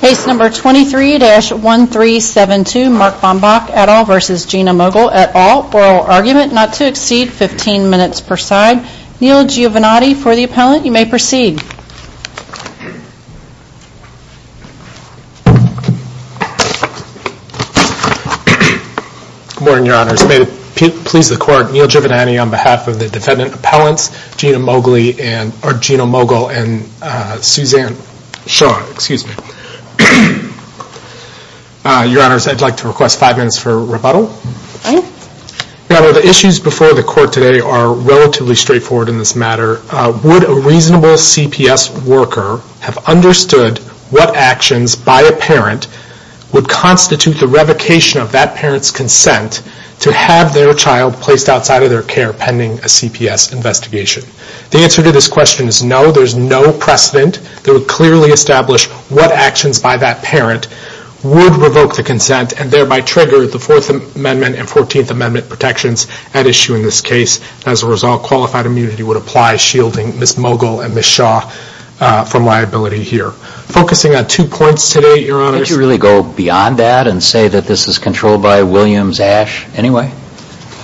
Case number 23-1372 Mark Bambach et al. v. Gina Moegle et al. Oral argument not to exceed 15 minutes per side. Neal Giovinatti for the appellant. You may proceed. Good morning, your honors. May it please the court, Neal Giovinatti on behalf of the defendant appellants Gina Moegle and Suzanne Shaw, excuse me. Your honors, I'd like to request five minutes for rebuttal. The issues before the court today are relatively straightforward in this matter. Would a reasonable CPS worker have understood what actions by a parent would constitute the revocation of that parent's consent to have their child placed outside of their care pending a CPS investigation? The answer to this question is no. There's no precedent that would clearly establish what actions by that parent would revoke the consent and thereby trigger the Fourth Amendment and Fourteenth Amendment protections at issue in this case. As a result, qualified immunity would apply, shielding Ms. Moegle and Ms. Shaw from liability here. Focusing on two points today, your honors. Did you really go beyond that and say that this is controlled by Williams-Ash anyway?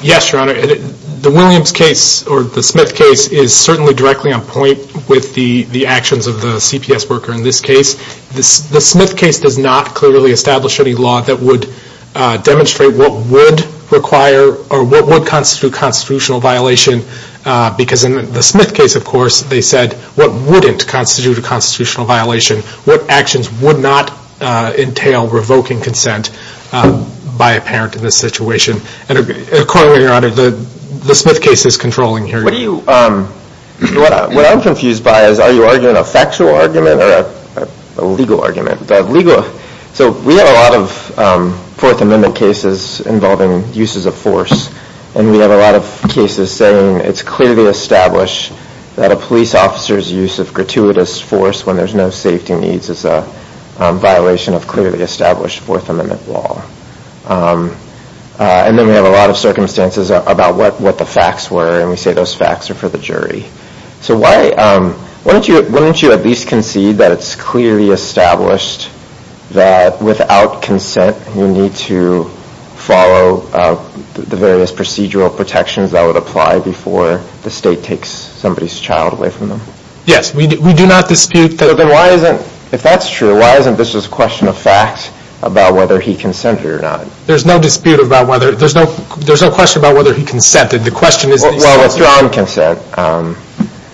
Yes, your honor. The Williams case or the Smith case is certainly directly on point with the the actions of the CPS worker in this case. The Smith case does not clearly establish any law that would demonstrate what would require or what would constitute constitutional violation. Because in the Smith case, of course, they said what wouldn't constitute a constitutional violation. What actions would not entail revoking consent by a parent in this situation? Accordingly, your honor, the Smith case is controlling here. What I'm confused by is are you arguing a factual argument or a legal argument? So we have a lot of Fourth Amendment cases involving uses of force and we have a lot of cases saying it's clearly established that a police officer's use of gratuitous force when there's no safety needs is a violation of clearly established Fourth Amendment law. And then we have a lot of circumstances about what what the facts were and we say those facts are for the jury. So why don't you at least concede that it's clearly established that without consent you need to follow the various procedural protections that would apply before the state takes somebody's child away from them? Yes, we do not dispute that. If that's true, why isn't this just a question of fact about whether he consented or not? There's no dispute about whether there's no there's no question about whether he consented. The question is. Well, withdrawing consent.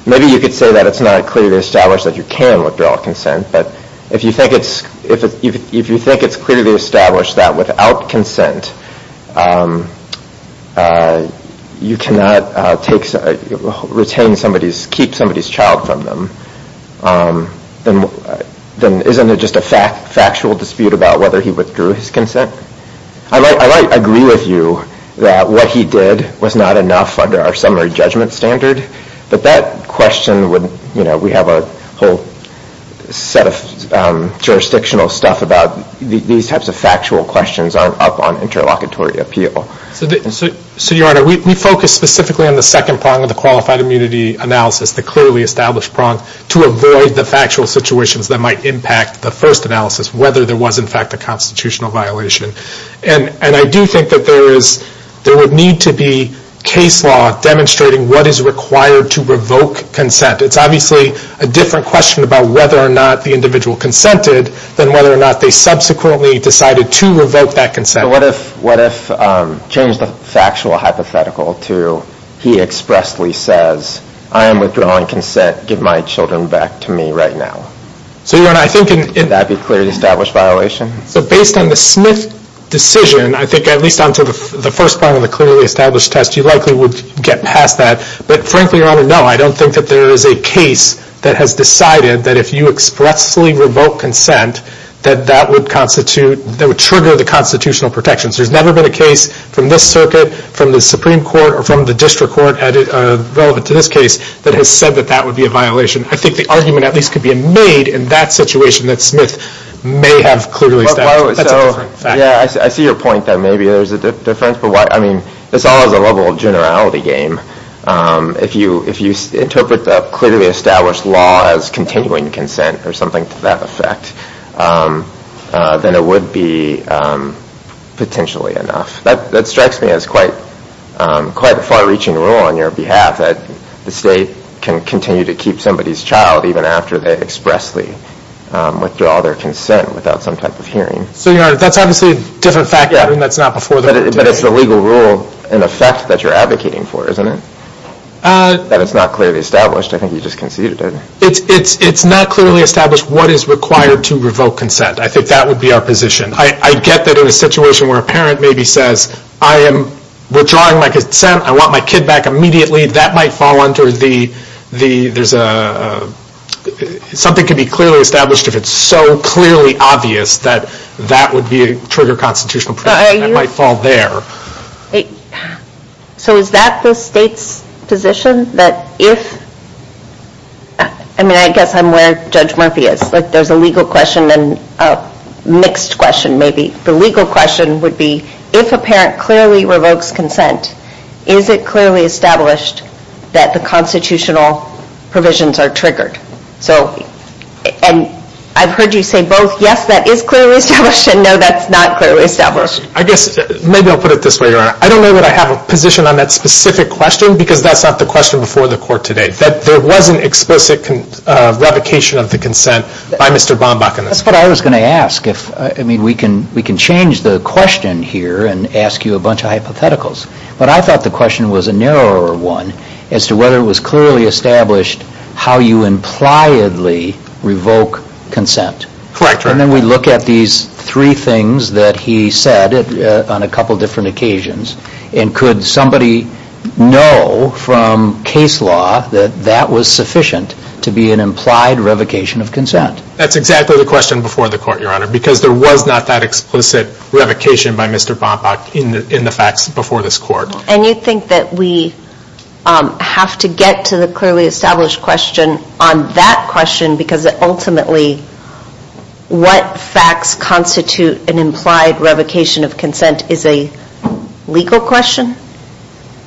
Maybe you could say that it's not clearly established that you can withdraw consent. But if you think it's if you think it's clearly established that without consent you cannot take retain somebody's keep somebody's child from them, then then isn't it just a fact factual dispute about whether he withdrew his consent? I might agree with you that what he did was not enough under our summary judgment standard. But that question would you know, we have a whole set of jurisdictional stuff about these types of factual questions aren't up on interlocutory appeal. So your honor, we focus specifically on the second prong of the qualified immunity analysis, the clearly established prong, to avoid the factual situations that might impact the first analysis whether there was in fact a constitutional violation. And and I do think that there is there would need to be case law demonstrating what is required to revoke consent. It's obviously a different question about whether or not the individual consented than whether or not they subsequently decided to revoke that consent. What if what if changed the factual hypothetical to he expressly says I am withdrawing consent, give my children back to me right now. So your honor, I think... Would that be clearly established violation? So based on the Smith decision, I think at least on to the first part of the clearly established test, you likely would get past that. But frankly, your honor, no, I don't think that there is a case that has decided that if you expressly revoke consent, that that would constitute, that would trigger the constitutional protections. There's never been a case from this circuit, from the Supreme Court, or from the district court relevant to this case, that has said that that would be a violation. I think the argument at least could be made in that situation that Smith may have clearly established. Yeah, I see your point that maybe there's a difference, but why I mean this all is a level of generality game. If you if you interpret the clearly established law as continuing consent or something to that effect, then it would be potentially enough. That strikes me as quite quite a far-reaching rule on your behalf, that the state can continue to keep somebody's child even after they expressly withdraw their consent without some type of hearing. So your honor, that's obviously a different factor, and that's not before... But it's the legal rule in effect that you're advocating for, isn't it? That it's not clearly established. I think you just conceded it. It's not clearly established what is required to revoke consent. I think that would be our position. I get that in a situation where a parent maybe says, I am withdrawing my consent. I want my kid back immediately. That might fall under the, there's a something could be clearly established if it's so clearly obvious that that would be a trigger constitutional protection. It might fall there. So is that the state's position that if, I mean, I guess I'm where Judge Murphy is, like there's a legal question and a mixed question maybe. The legal question would be, if a parent clearly revokes consent, is it clearly established that the constitutional provisions are triggered? So and I've heard you say both, yes, that is clearly established, and no, that's not clearly established. I guess maybe I'll put it this way, Your Honor. I don't know that I have a position on that specific question, because that's not the question before the court today. That there wasn't explicit revocation of the consent by Mr. Bombach. That's what I was going to ask. If, I mean, we can we can change the question here and ask you a bunch of hypotheticals. But I thought the question was a narrower one as to whether it was clearly established how you on a couple different occasions, and could somebody know from case law that that was sufficient to be an implied revocation of consent? That's exactly the question before the court, Your Honor, because there was not that explicit revocation by Mr. Bombach in the facts before this court. And you think that we have to get to the clearly established question on that question, because ultimately what facts constitute an implied revocation of consent is a legal question?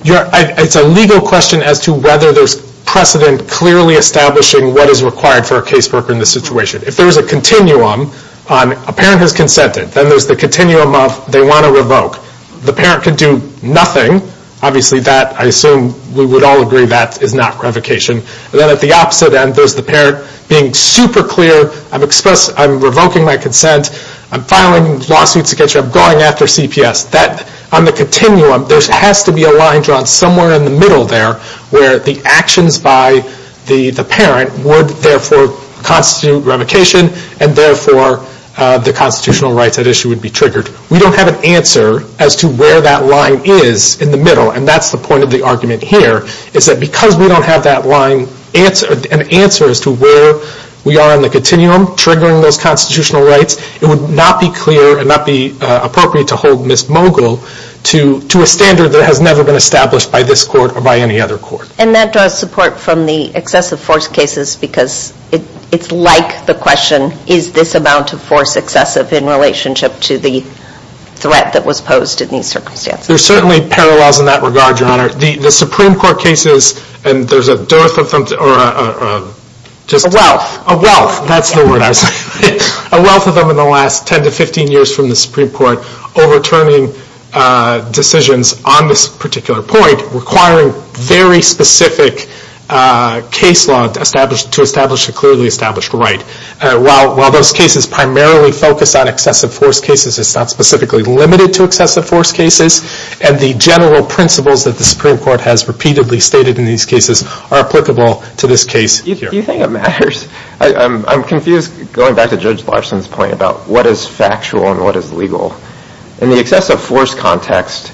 Yeah, it's a legal question as to whether there's precedent clearly establishing what is required for a caseworker in this situation. If there is a continuum on a parent has consented, then there's the continuum of they want to revoke. The parent can do nothing. Obviously that, I assume we would all agree, that is not revocation. But then at the opposite end, there's the parent being super clear. I've expressed, I'm revoking my consent. I'm filing lawsuits against you. I'm going after CPS. That, on the continuum, there has to be a line drawn somewhere in the middle there where the actions by the parent would therefore constitute revocation, and therefore the constitutional rights at issue would be triggered. We don't have an answer as to where that line is in the middle, and that's the point of the argument here, is that because we don't have that line, an answer as to where we are in the continuum triggering those constitutional rights, it would not be clear and not be appropriate to hold Ms. Mogul to a standard that has never been established by this court or by any other court. And that draws support from the excessive force cases because it's like the question, is this amount of force excessive in relationship to the threat that was posed in these circumstances? There's certainly parallels in that regard, Your Honor. The Supreme Court cases, and there's a dearth of them, or just a wealth, a wealth, that's the word I was going to say, a wealth of them in the last 10 to 15 years from the Supreme Court, overturning decisions on this particular point requiring very specific case law to establish a clearly established right. While those cases primarily focus on excessive force cases, it's not specifically limited to excessive force cases, and the general principles that the Supreme Court has repeatedly stated in these cases are applicable to this case. Do you think it matters? I'm confused, going back to Judge Larson's point about what is factual and what is legal. In the excessive force context,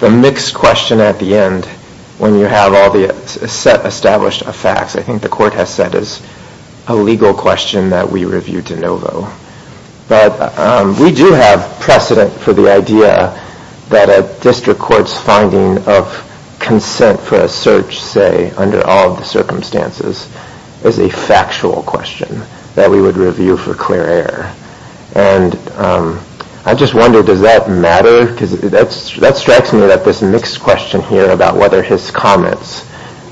the mixed question at the end, when you have all the established facts, I think the court has said is a legal question that we review de novo. But we do have precedent for the idea that a district court's finding of consent for a search, say, under all the circumstances, is a factual question that we would review for clear air. I just wonder, does that matter? Because that strikes me that this mixed question here about whether his comments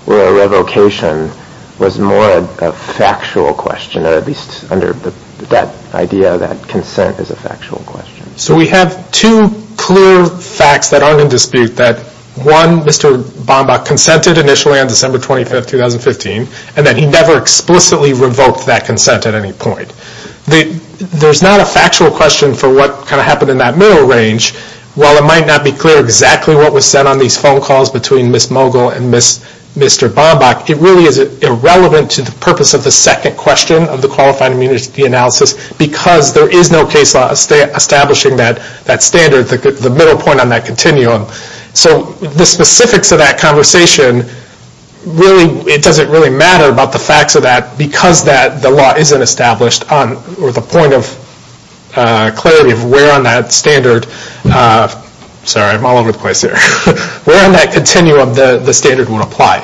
were a revocation was more a factual question, or at least under that idea that consent is a factual question. So we have two clear facts that aren't in dispute, that one, Mr. Bombach consented initially on December 25th, 2015, and that he never explicitly revoked that consent at any point. There's not a factual question for what kind of happened in that middle range. While it might not be clear exactly what was said on these phone calls between Ms. Mogul and Mr. Bombach, it really is irrelevant to the purpose of the second question of the qualified immunity analysis, because there is no case law establishing that standard, the middle point on that continuum. So the specifics of that conversation, really, it doesn't really matter about the facts of that, because that the law isn't established on, or the point of clarity of where on that standard, sorry, I'm all over the place here, where in that continuum the standard would apply.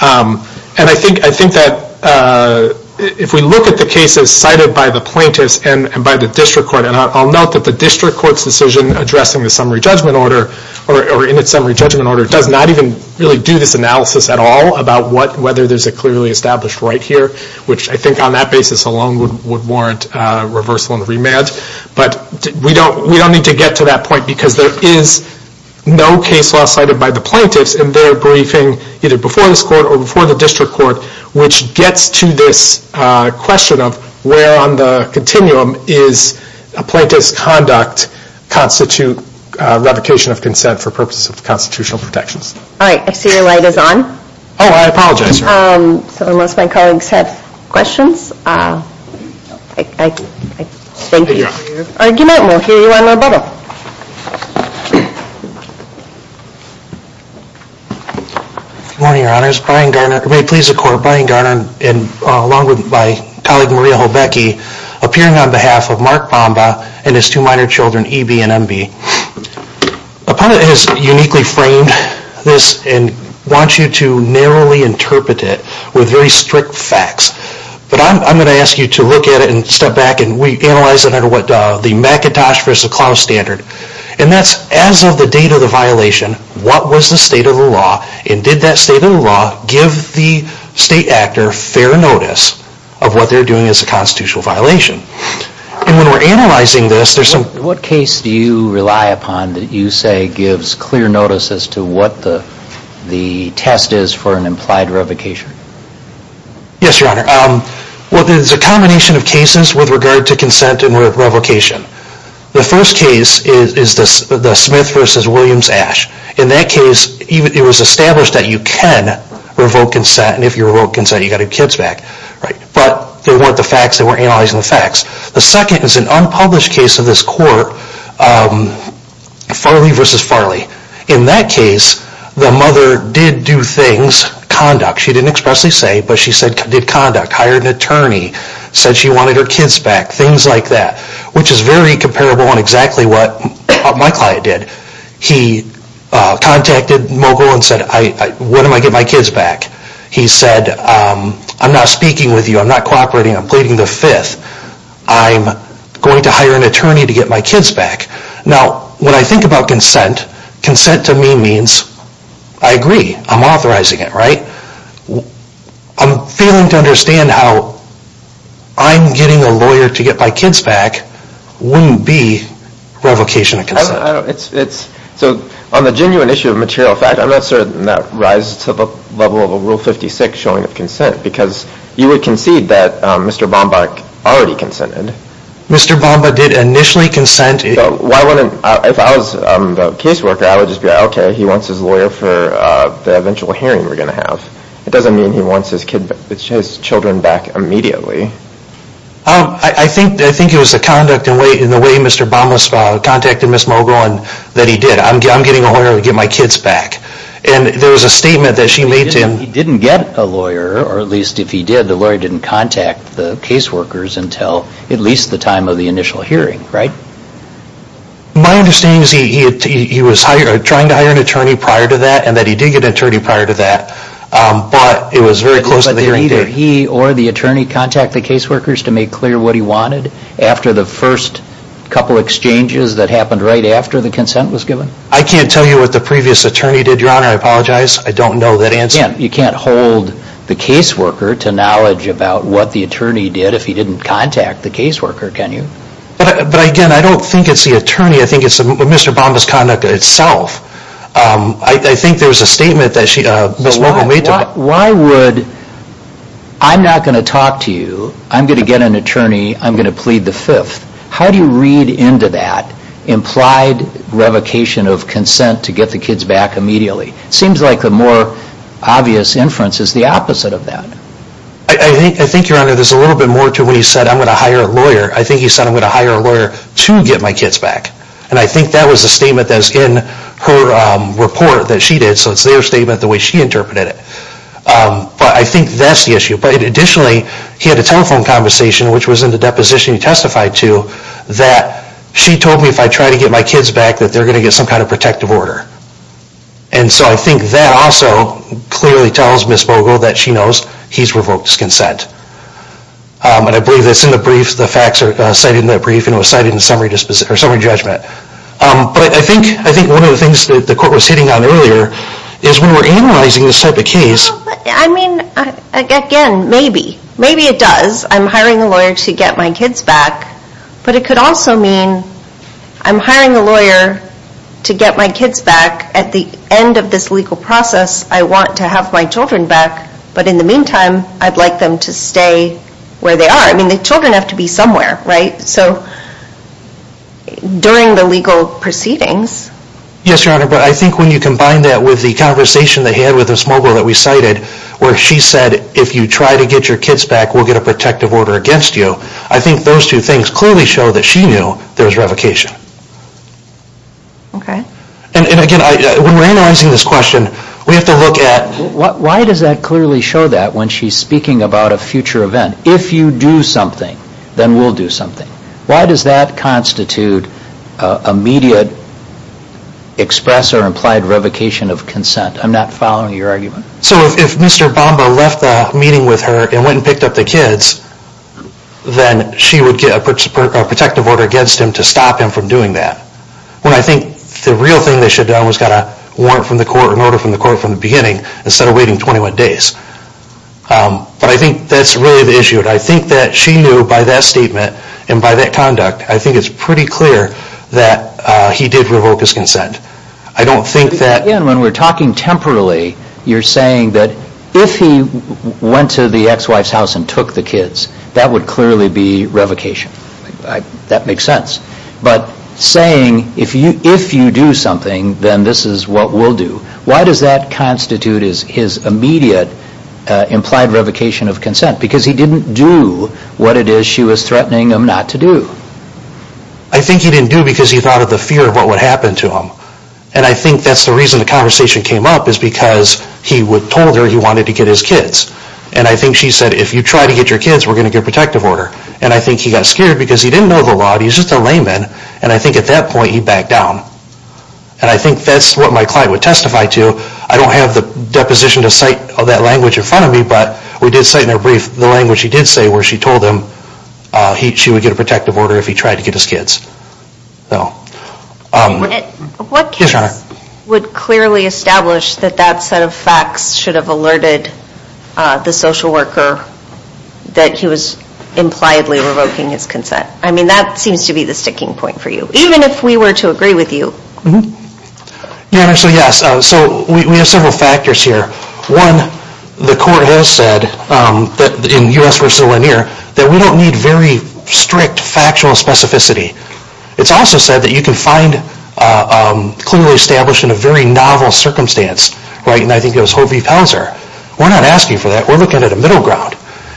And I think that if we look at the cases cited by the plaintiffs and by the district court, and I'll note that the district court's decision addressing the summary judgment order, or in its summary judgment order, does not even really do this analysis at all about what, whether there's a clearly established right here, which I think on that basis alone would warrant reversal and remand. But we don't need to get to that point, because there is no case law cited by the plaintiffs in their briefing, either before this court or before the district court, which gets to this question of where on the continuum is a plaintiff's conduct constitute revocation of consent for purposes of constitutional protections. All right, I see your light is on. Oh, I apologize. So unless my colleagues have questions, thank you. Argument will hear you on November. Good morning, your honors. Brian Garner. May it please the court, Brian Garner and along with my colleague Maria Holbecki, appearing on behalf of Mark Bomba and his two minor children, E.B. and M.B. A pundit has uniquely framed this and wants you to narrowly interpret it with very strict facts. But I'm going to ask you to look at it and step back and we analyze it under what the Macintosh versus Klaus standard. And that's as of the date of the violation, what was the state of the law and did that state of the law give the state actor fair notice of what they're doing as a constitutional violation? And when we're analyzing this, there's some... What case do you rely upon that you say gives clear notice as to what the the test is for an implied revocation? Yes, your honor. Well, there's a combination of cases with regard to consent and revocation. The first case is the Smith versus Williams-Ash. In that case, it was established that you can revoke consent and if you revoke consent, you got your kids back, right? But they weren't the facts, they weren't analyzing the facts. The second is an unpublished case of this court, Farley versus Farley. In that case, the mother did do things, conduct, she didn't expressly say, but she said did conduct, hired an attorney, said she wanted her kids back, things like that, which is very comparable and exactly what my client did. He contacted Mogul and said, what am I getting my kids back? He said, I'm not speaking with you. I'm not cooperating. I'm pleading the fifth. I'm going to hire an attorney to get my kids back. Now, when I think about consent, consent to me means I agree, I'm authorizing it, right? I'm failing to understand how I'm getting a lawyer to get my kids back wouldn't be revocation of consent. So on the genuine issue of material fact, I'm not certain that rises to the level of a Rule 56 showing of consent because you would concede that Mr. Bamba already consented. Mr. Bamba did initially consent. If I was the caseworker, I would just be like, okay, he wants his lawyer for the eventual hearing we're going to have. It doesn't mean he wants his kids, his children back immediately. I think, I think it was the conduct and way, in the way Mr. Bamba contacted Ms. Mogul and that he did. I'm getting a lawyer to get my kids back. And there was a statement that she made to him. He didn't get a lawyer, or at least if he did, the lawyer didn't contact the caseworkers until at least the time of the initial hearing, right? My understanding is he was trying to hire an attorney prior to that and that he did get an attorney prior to that. But it was very close to the hearing date. But did either he or the attorney contact the caseworkers to make clear what he wanted after the first couple exchanges that happened right after the consent was given? I can't tell you what the previous attorney did, Your Honor. I apologize. I don't know that answer. Yeah, you can't hold the caseworker to knowledge about what the attorney did if he didn't contact the caseworker, can you? But again, I don't think it's the attorney. I think it's Mr. Bamba's conduct itself. I think there was a statement that she, Ms. Mogul made to him. Why would, I'm not going to talk to you. I'm going to get an attorney. I'm going to plead the fifth. How do you read into that implied revocation of consent to get the kids back immediately? It seems like the more obvious inference is the opposite of that. I think, I think, Your Honor, there's a little bit more to what he said. I'm going to hire a lawyer. I think he said I'm going to hire a lawyer to get my kids back. And I think that was a statement that's in her report that she did, so it's their statement the way she interpreted it. But I think that's the issue. But additionally, he had a telephone conversation, which was in the deposition he testified to, that she told me if I try to get my kids back that they're going to get some kind of protective order. And so I think that also clearly tells Ms. Mogul that she knows he's revoked his consent. And I believe that's in the brief, the facts are cited in that brief, and it was cited in summary judgment. But I think, I think one of the things that the court was hitting on earlier is when we're analyzing this type of case. I mean, again, maybe, maybe it does. I'm hiring a lawyer to get my kids back. But it could also mean I'm hiring a lawyer to get my kids back at the end of this legal process. I want to have my children back, but in the meantime, I'd like them to stay where they are. I mean, the children have to be somewhere, right? So during the legal proceedings. Yes, Your Honor, but I think when you combine that with the conversation that he had with Ms. Mogul that we cited, where she said if you try to get your kids back, we'll get a protective order against you. I think those two things clearly show that she knew there was revocation. Okay. And again, when we're analyzing this question, we have to look at... Why does that clearly show that when she's speaking about a future event? If you do something, then we'll do something. Why does that constitute immediate express or implied revocation of consent? I'm not following your argument. So if Mr. Bamba left the meeting with her and went and picked up the kids, then she would get a protective order against him to stop him from doing that. When I think the real thing they should have done was got a warrant from the court, an order from the court from the beginning, instead of waiting 21 days. But I think that's really the issue. I think that she knew by that statement and by that conduct, I think it's pretty clear that he did revoke his consent. I don't think that... Again, when we're talking temporarily, you're saying that if he went to the ex-wife's house and took the kids, that would clearly be revocation. That makes sense. But saying if you do something, then this is what we'll do. Why does that constitute his immediate implied revocation of consent? Because he didn't do what it is she was threatening him not to do. I think he didn't do because he thought of the fear of what would happen to him. And I think that's the reason the conversation came up, is because he told her he wanted to get his kids. And I think she said, if you try to get your kids, we're going to get a protective order. And I think he got scared because he didn't know the law. He's just a layman. And I think at that point he backed down. And I think that's what my client would testify to. I don't have the deposition to cite of that language in front of me, but we did cite in her brief the language she did say where she told him she would get a protective order if he tried to get his kids. No. What case would clearly establish that that set of facts should have alerted the social worker that he was impliedly revoking his consent? I mean that seems to be the sticking point for you, even if we were to agree with you. Yeah, so yes, so we have several factors here. One, the court has said that in U.S. v. Lanier, that we don't need very strict factual specificity. It's also said that you can find clearly established in a very novel circumstance, right? And I think it was Hope v. Pelzer. We're not asking for that. We're looking at a middle ground.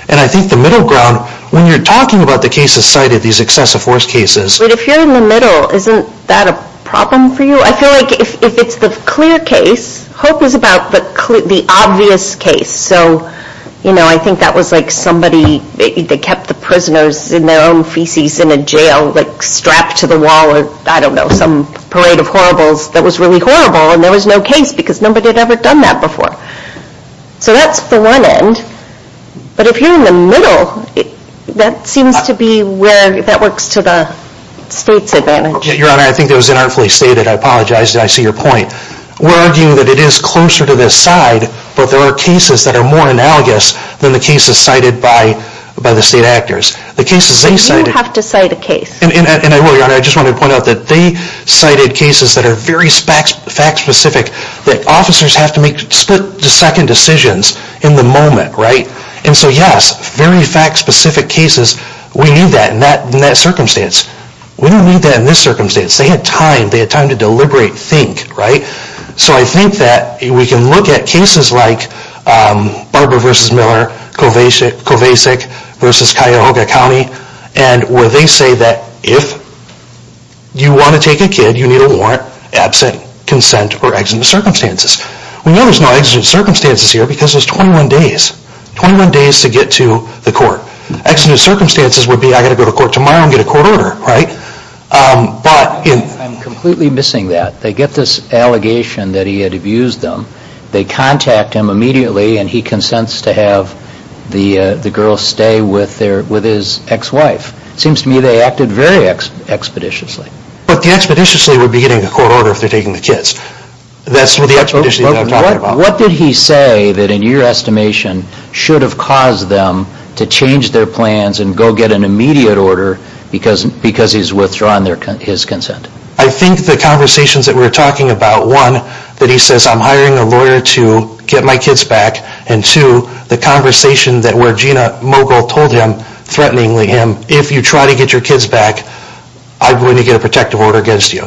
And I think the middle ground, when you're talking about the cases cited, these excessive force cases... But if you're in the middle, isn't that a problem for you? I feel like if it's the clear case, Hope is about the obvious case. So, you know, I think that was like somebody, they kept the prisoners in their own feces in a jail, like strapped to the wall, or I don't know, some parade of horribles that was really horrible, and there was no case because nobody had ever done that before. So that's the one end. But if you're in the middle, that seems to be where that works to the state's advantage. Your Honor, I think that was inartfully stated. I apologize. I see your point. We're arguing that it is closer to this side, but there are cases that are more analogous than the cases cited by the state actors. The cases they cited... You have to cite a case. And I will, Your Honor. I just want to point out that they cited cases that are very fact-specific, that officers have to make split-second decisions in the moment, right? And so, yes, very fact-specific cases. We need that in that circumstance. We don't need that in this circumstance. They had time. They had time to deliberate, think, right? So I think that we can look at cases like Barbara v. Miller, Kovacic v. Cuyahoga County, and where they say that if you want to take a kid, you need a warrant, absent, consent, or exigent circumstances. We know there's no exigent circumstances here because there's 21 days. 21 days to get to the court. Exigent circumstances would be, I got to go to court tomorrow and get a court order, right? But... I'm completely missing that. They get this allegation that he had abused them. They contact him immediately and he consents to have the girl stay with his ex-wife. It seems to me they acted very expeditiously. But the expeditiously would be getting a court order if they're taking the kids. That's the expeditiously I'm talking about. What did he say that, in your estimation, should have caused them to change their plans and go get an immediate order because he's withdrawing his consent? I think the conversations that we're talking about, one, that he says, I'm hiring a lawyer to get my kids back, and two, the conversation that where Gina Mogul told him, threateningly him, if you try to get your kids back, I'm going to get a protective order against you.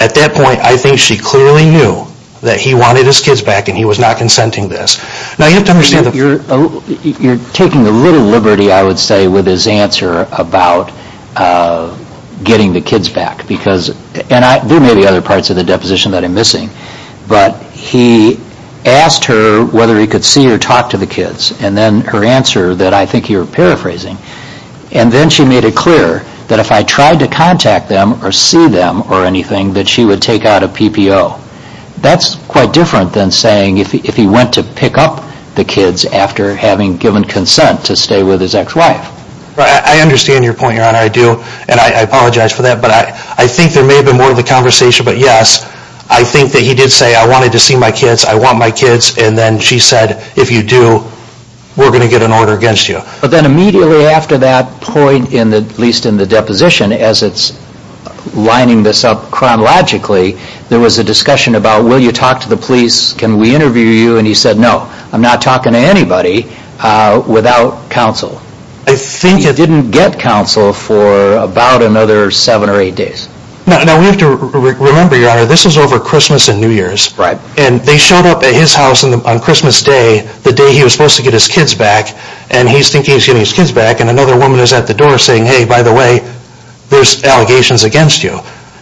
At that point, I think she clearly knew that he wanted his kids back and he was not consenting this. Now, you have to understand... You're taking a little liberty, I would say, with his answer about getting the kids back because, and there may be other parts of the deposition that I'm missing, but he asked her whether he could see or talk to the kids and then her answer that I think you're paraphrasing, and then she made it clear that if I tried to contact them or see them or anything that she would take out a PPO. That's quite different than saying if he went to pick up the kids after having given consent to stay with his ex-wife. I understand your point, Your Honor. I do, and I apologize for that, but I think there may have been more of the conversation, but yes, I think that he did say, I wanted to see my kids, I want my kids, and then she said, if you do, we're going to get an order against you. But then immediately after that point, at least in the deposition, as it's lining this up chronologically, there was a discussion about, will you talk to the police? Can we interview you? And he said, no, I'm not talking to anybody without counsel. I think... He didn't get counsel for about another seven or eight days. Now, we have to remember, Your Honor, this was over Christmas and New Year's. Right. And they showed up at his house on Christmas Day, the day he was supposed to get his kids back, and he's thinking he's getting his kids back, and another woman is at the door saying, hey, by the way, there's allegations against you.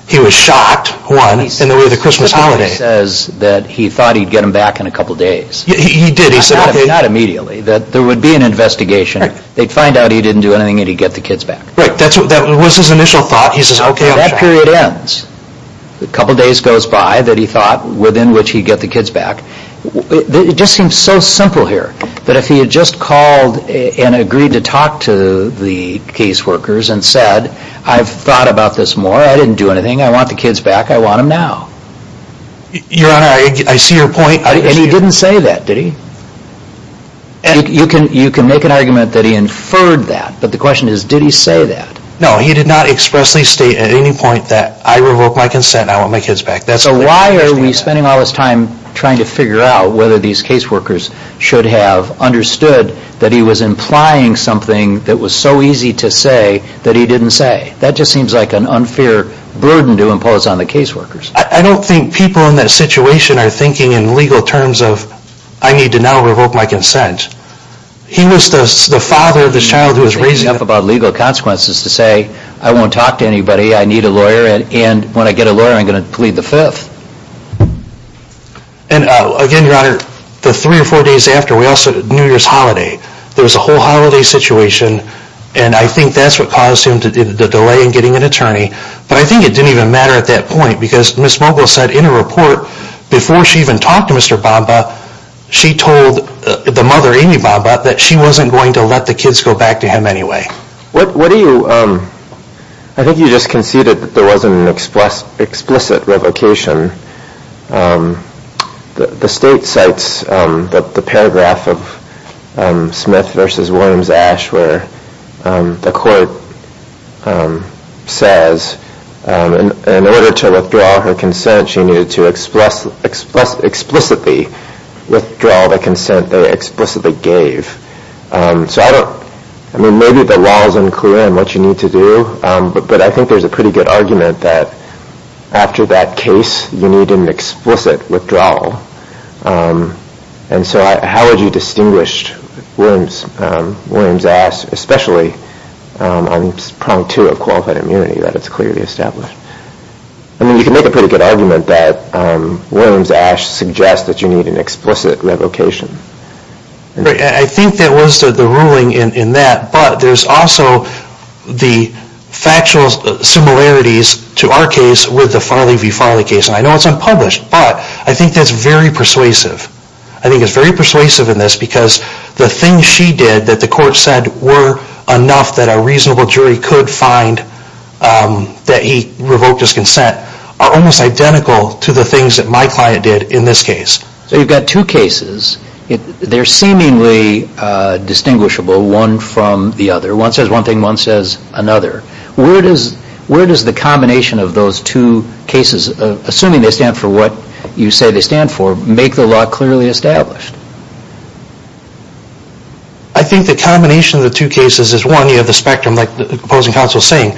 He was shocked, one, in the way of the Christmas holiday. He says that he thought he'd get them back in a couple days. He did. He said... Not immediately, that there would be an investigation. They'd find out he didn't do anything, and he'd get the kids back. Right. That's what that was his initial thought. He says, okay, I'll check. That period ends. A couple days goes by that he thought, within which he'd get the kids back. It just seems so simple here, that if he had just called and agreed to talk to the caseworkers and said, I've thought about this more. I didn't do anything. I want the kids back. I want them now. Your Honor, I see your point. And he didn't say that, did he? And you can make an argument that he inferred that, but the question is, did he say that? No, he did not expressly state at any point that I revoked my consent. I want my kids back. So why are we spending all this time trying to figure out whether these caseworkers should have understood that he was implying something that was so easy to say, that he didn't say? That just seems like an unfair burden to impose on the caseworkers. I don't think people in that situation are thinking in legal terms of, I need to now revoke my consent. He was the father of this child who was raising up about legal consequences to say, I won't talk to anybody. I need a lawyer, and when I get a lawyer, I'm going to plead the fifth. And again, Your Honor, the three or four days after, New Year's holiday, there was a whole holiday situation, and I think that's what caused him to delay in getting an attorney. But I think it didn't even matter at that point, because Ms. Mogul said in her report, before she even talked to Mr. Bamba, she told the mother, Amy Bamba, that she wasn't going to let the kids go back to him anyway. What do you, I think you just conceded that there wasn't an explicit revocation. The state cites the paragraph of Smith v. Williams-Ash where the court says in order to withdraw her consent, she needed to explicitly withdraw the consent they explicitly gave. So I don't, I mean, maybe the law is unclear on what you need to do, but I think there's a pretty good argument that after that case, you need an explicit withdrawal. And so how would you distinguish Williams-Ash, especially on prong two of qualified immunity, that it's clearly established? I mean, you can make a pretty good argument that Williams-Ash suggests that you need an explicit revocation. I think that was the ruling in that, but there's also the factual similarities to our case with the Farley v. Farley case. And I know it's unpublished, but I think that's very persuasive. I think it's very persuasive in this because the things she did that the court said were enough that a reasonable jury could find that he revoked his consent are almost identical to the things that my client did in this case. So you've got two cases. They're seemingly distinguishable, one from the other. One says one thing, one says another. Where does the combination of those two cases, assuming they stand for what you say they stand for, make the law clearly established? I think the combination of the two cases is, one, you have the spectrum, like the opposing counsel was saying,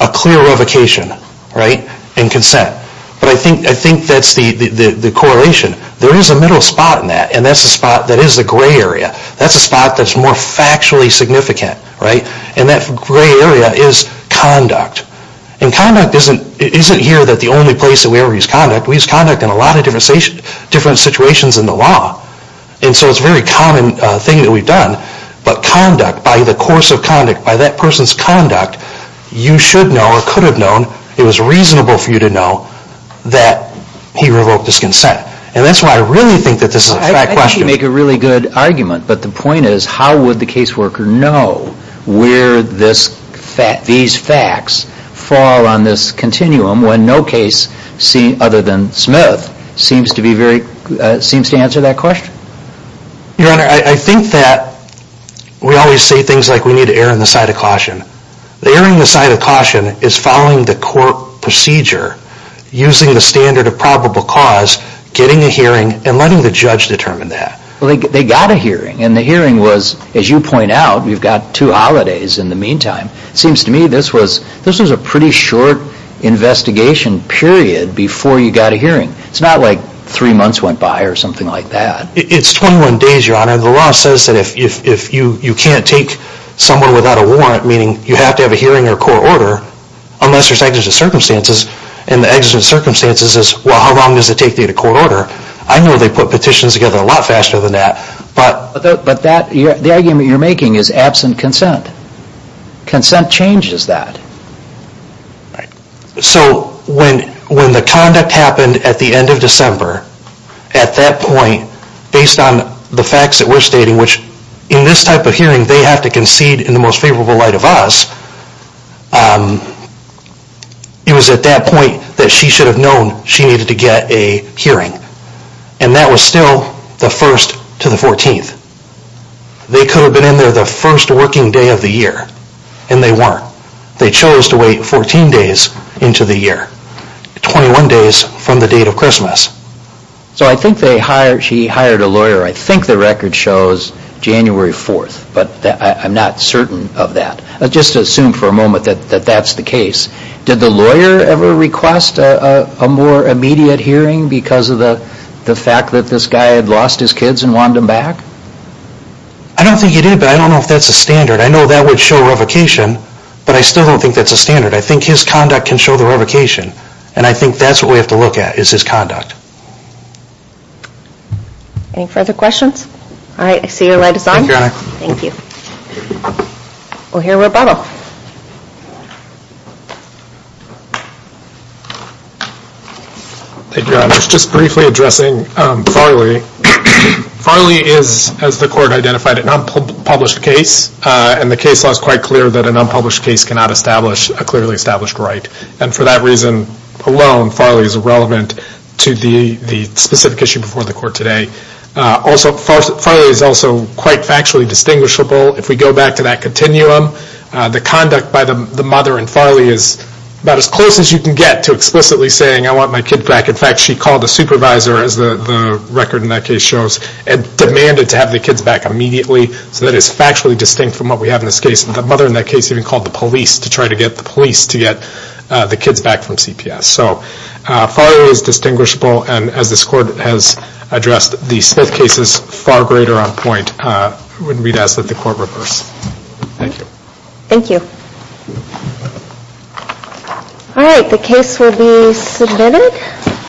a clear revocation, right, in consent. But I think that's the correlation. There is a middle spot in that, and that's the spot that is the gray area. That's the spot that's more factually significant, right, and that gray area is conduct. And conduct isn't here that the only place that we ever use conduct. We use conduct in a lot of different situations in the law, and so it's a very common thing that we've done. But conduct, by the course of conduct, by that person's conduct, you should know or could have known, it was reasonable for you to know, that he revoked his consent. And that's why I really think that this is a fact question. I think you make a really good argument, but the point is, how would the caseworker know where these facts fall on this continuum when no case other than Smith seems to answer that question? Your Honor, I think that we always say things like we need to err on the side of caution. Erring on the side of caution is following the court procedure, using the standard of probable cause, getting a hearing, and letting the judge determine that. Well, they got a hearing, and the hearing was, as you point out, you've got two holidays in the meantime. It seems to me this was a pretty short investigation period before you got a hearing. It's not like three months went by or something like that. It's 21 days, Your Honor. The law says that if you can't take someone without a warrant, meaning you have to have a hearing or court order, unless there's exigent circumstances, and the exigent circumstances is, well, how long does it take to get a court order? I know they put petitions together a lot faster than that. But the argument you're making is absent consent. Consent changes that. So when the conduct happened at the end of December, at that point, based on the facts that we're stating, which in this type of hearing they have to concede in the most favorable light of us, it was at that point that she should have known she needed to get a hearing. And that was still the 1st to the 14th. They could have been in there the first working day of the year, and they weren't. They chose to wait 14 days into the year, 21 days from the date of Christmas. So I think she hired a lawyer. I think the record shows January 4th, but I'm not certain of that. Let's just assume for a moment that that's the case. Did the lawyer ever request a more immediate hearing because of the fact that this guy had lost his kids and wanted them back? I don't think he did, but I don't know if that's the standard. I know that would show revocation, but I still don't think that's a standard. I think his conduct can show the revocation, and I think that's what we have to look at is his conduct. Any further questions? All right, I see your light is on. Thank you. We'll hear rebuttal. Thank you, Your Honor. Just briefly addressing Farley. Farley is, as the court identified, an unpublished case, and the case law is quite clear that an unpublished case cannot establish a clearly established right. And for that reason alone, Farley is irrelevant to the specific issue before the court today. Farley is also quite factually distinguishable. If we go back to that continuum, the conduct by the mother in Farley is about as close as you can get to explicitly saying, I want my kids back. In fact, she called the supervisor, as the record in that case shows, and demanded to have the kids back immediately. So that is factually distinct from what we have in this case. The mother in that case even called the police to try to get the police to get the kids back from CPS. So Farley is distinguishable, and as this court has addressed, the Smith case is far greater on point. I wouldn't be to ask that the court reverse. Thank you. Thank you. All right. The case will be submitted.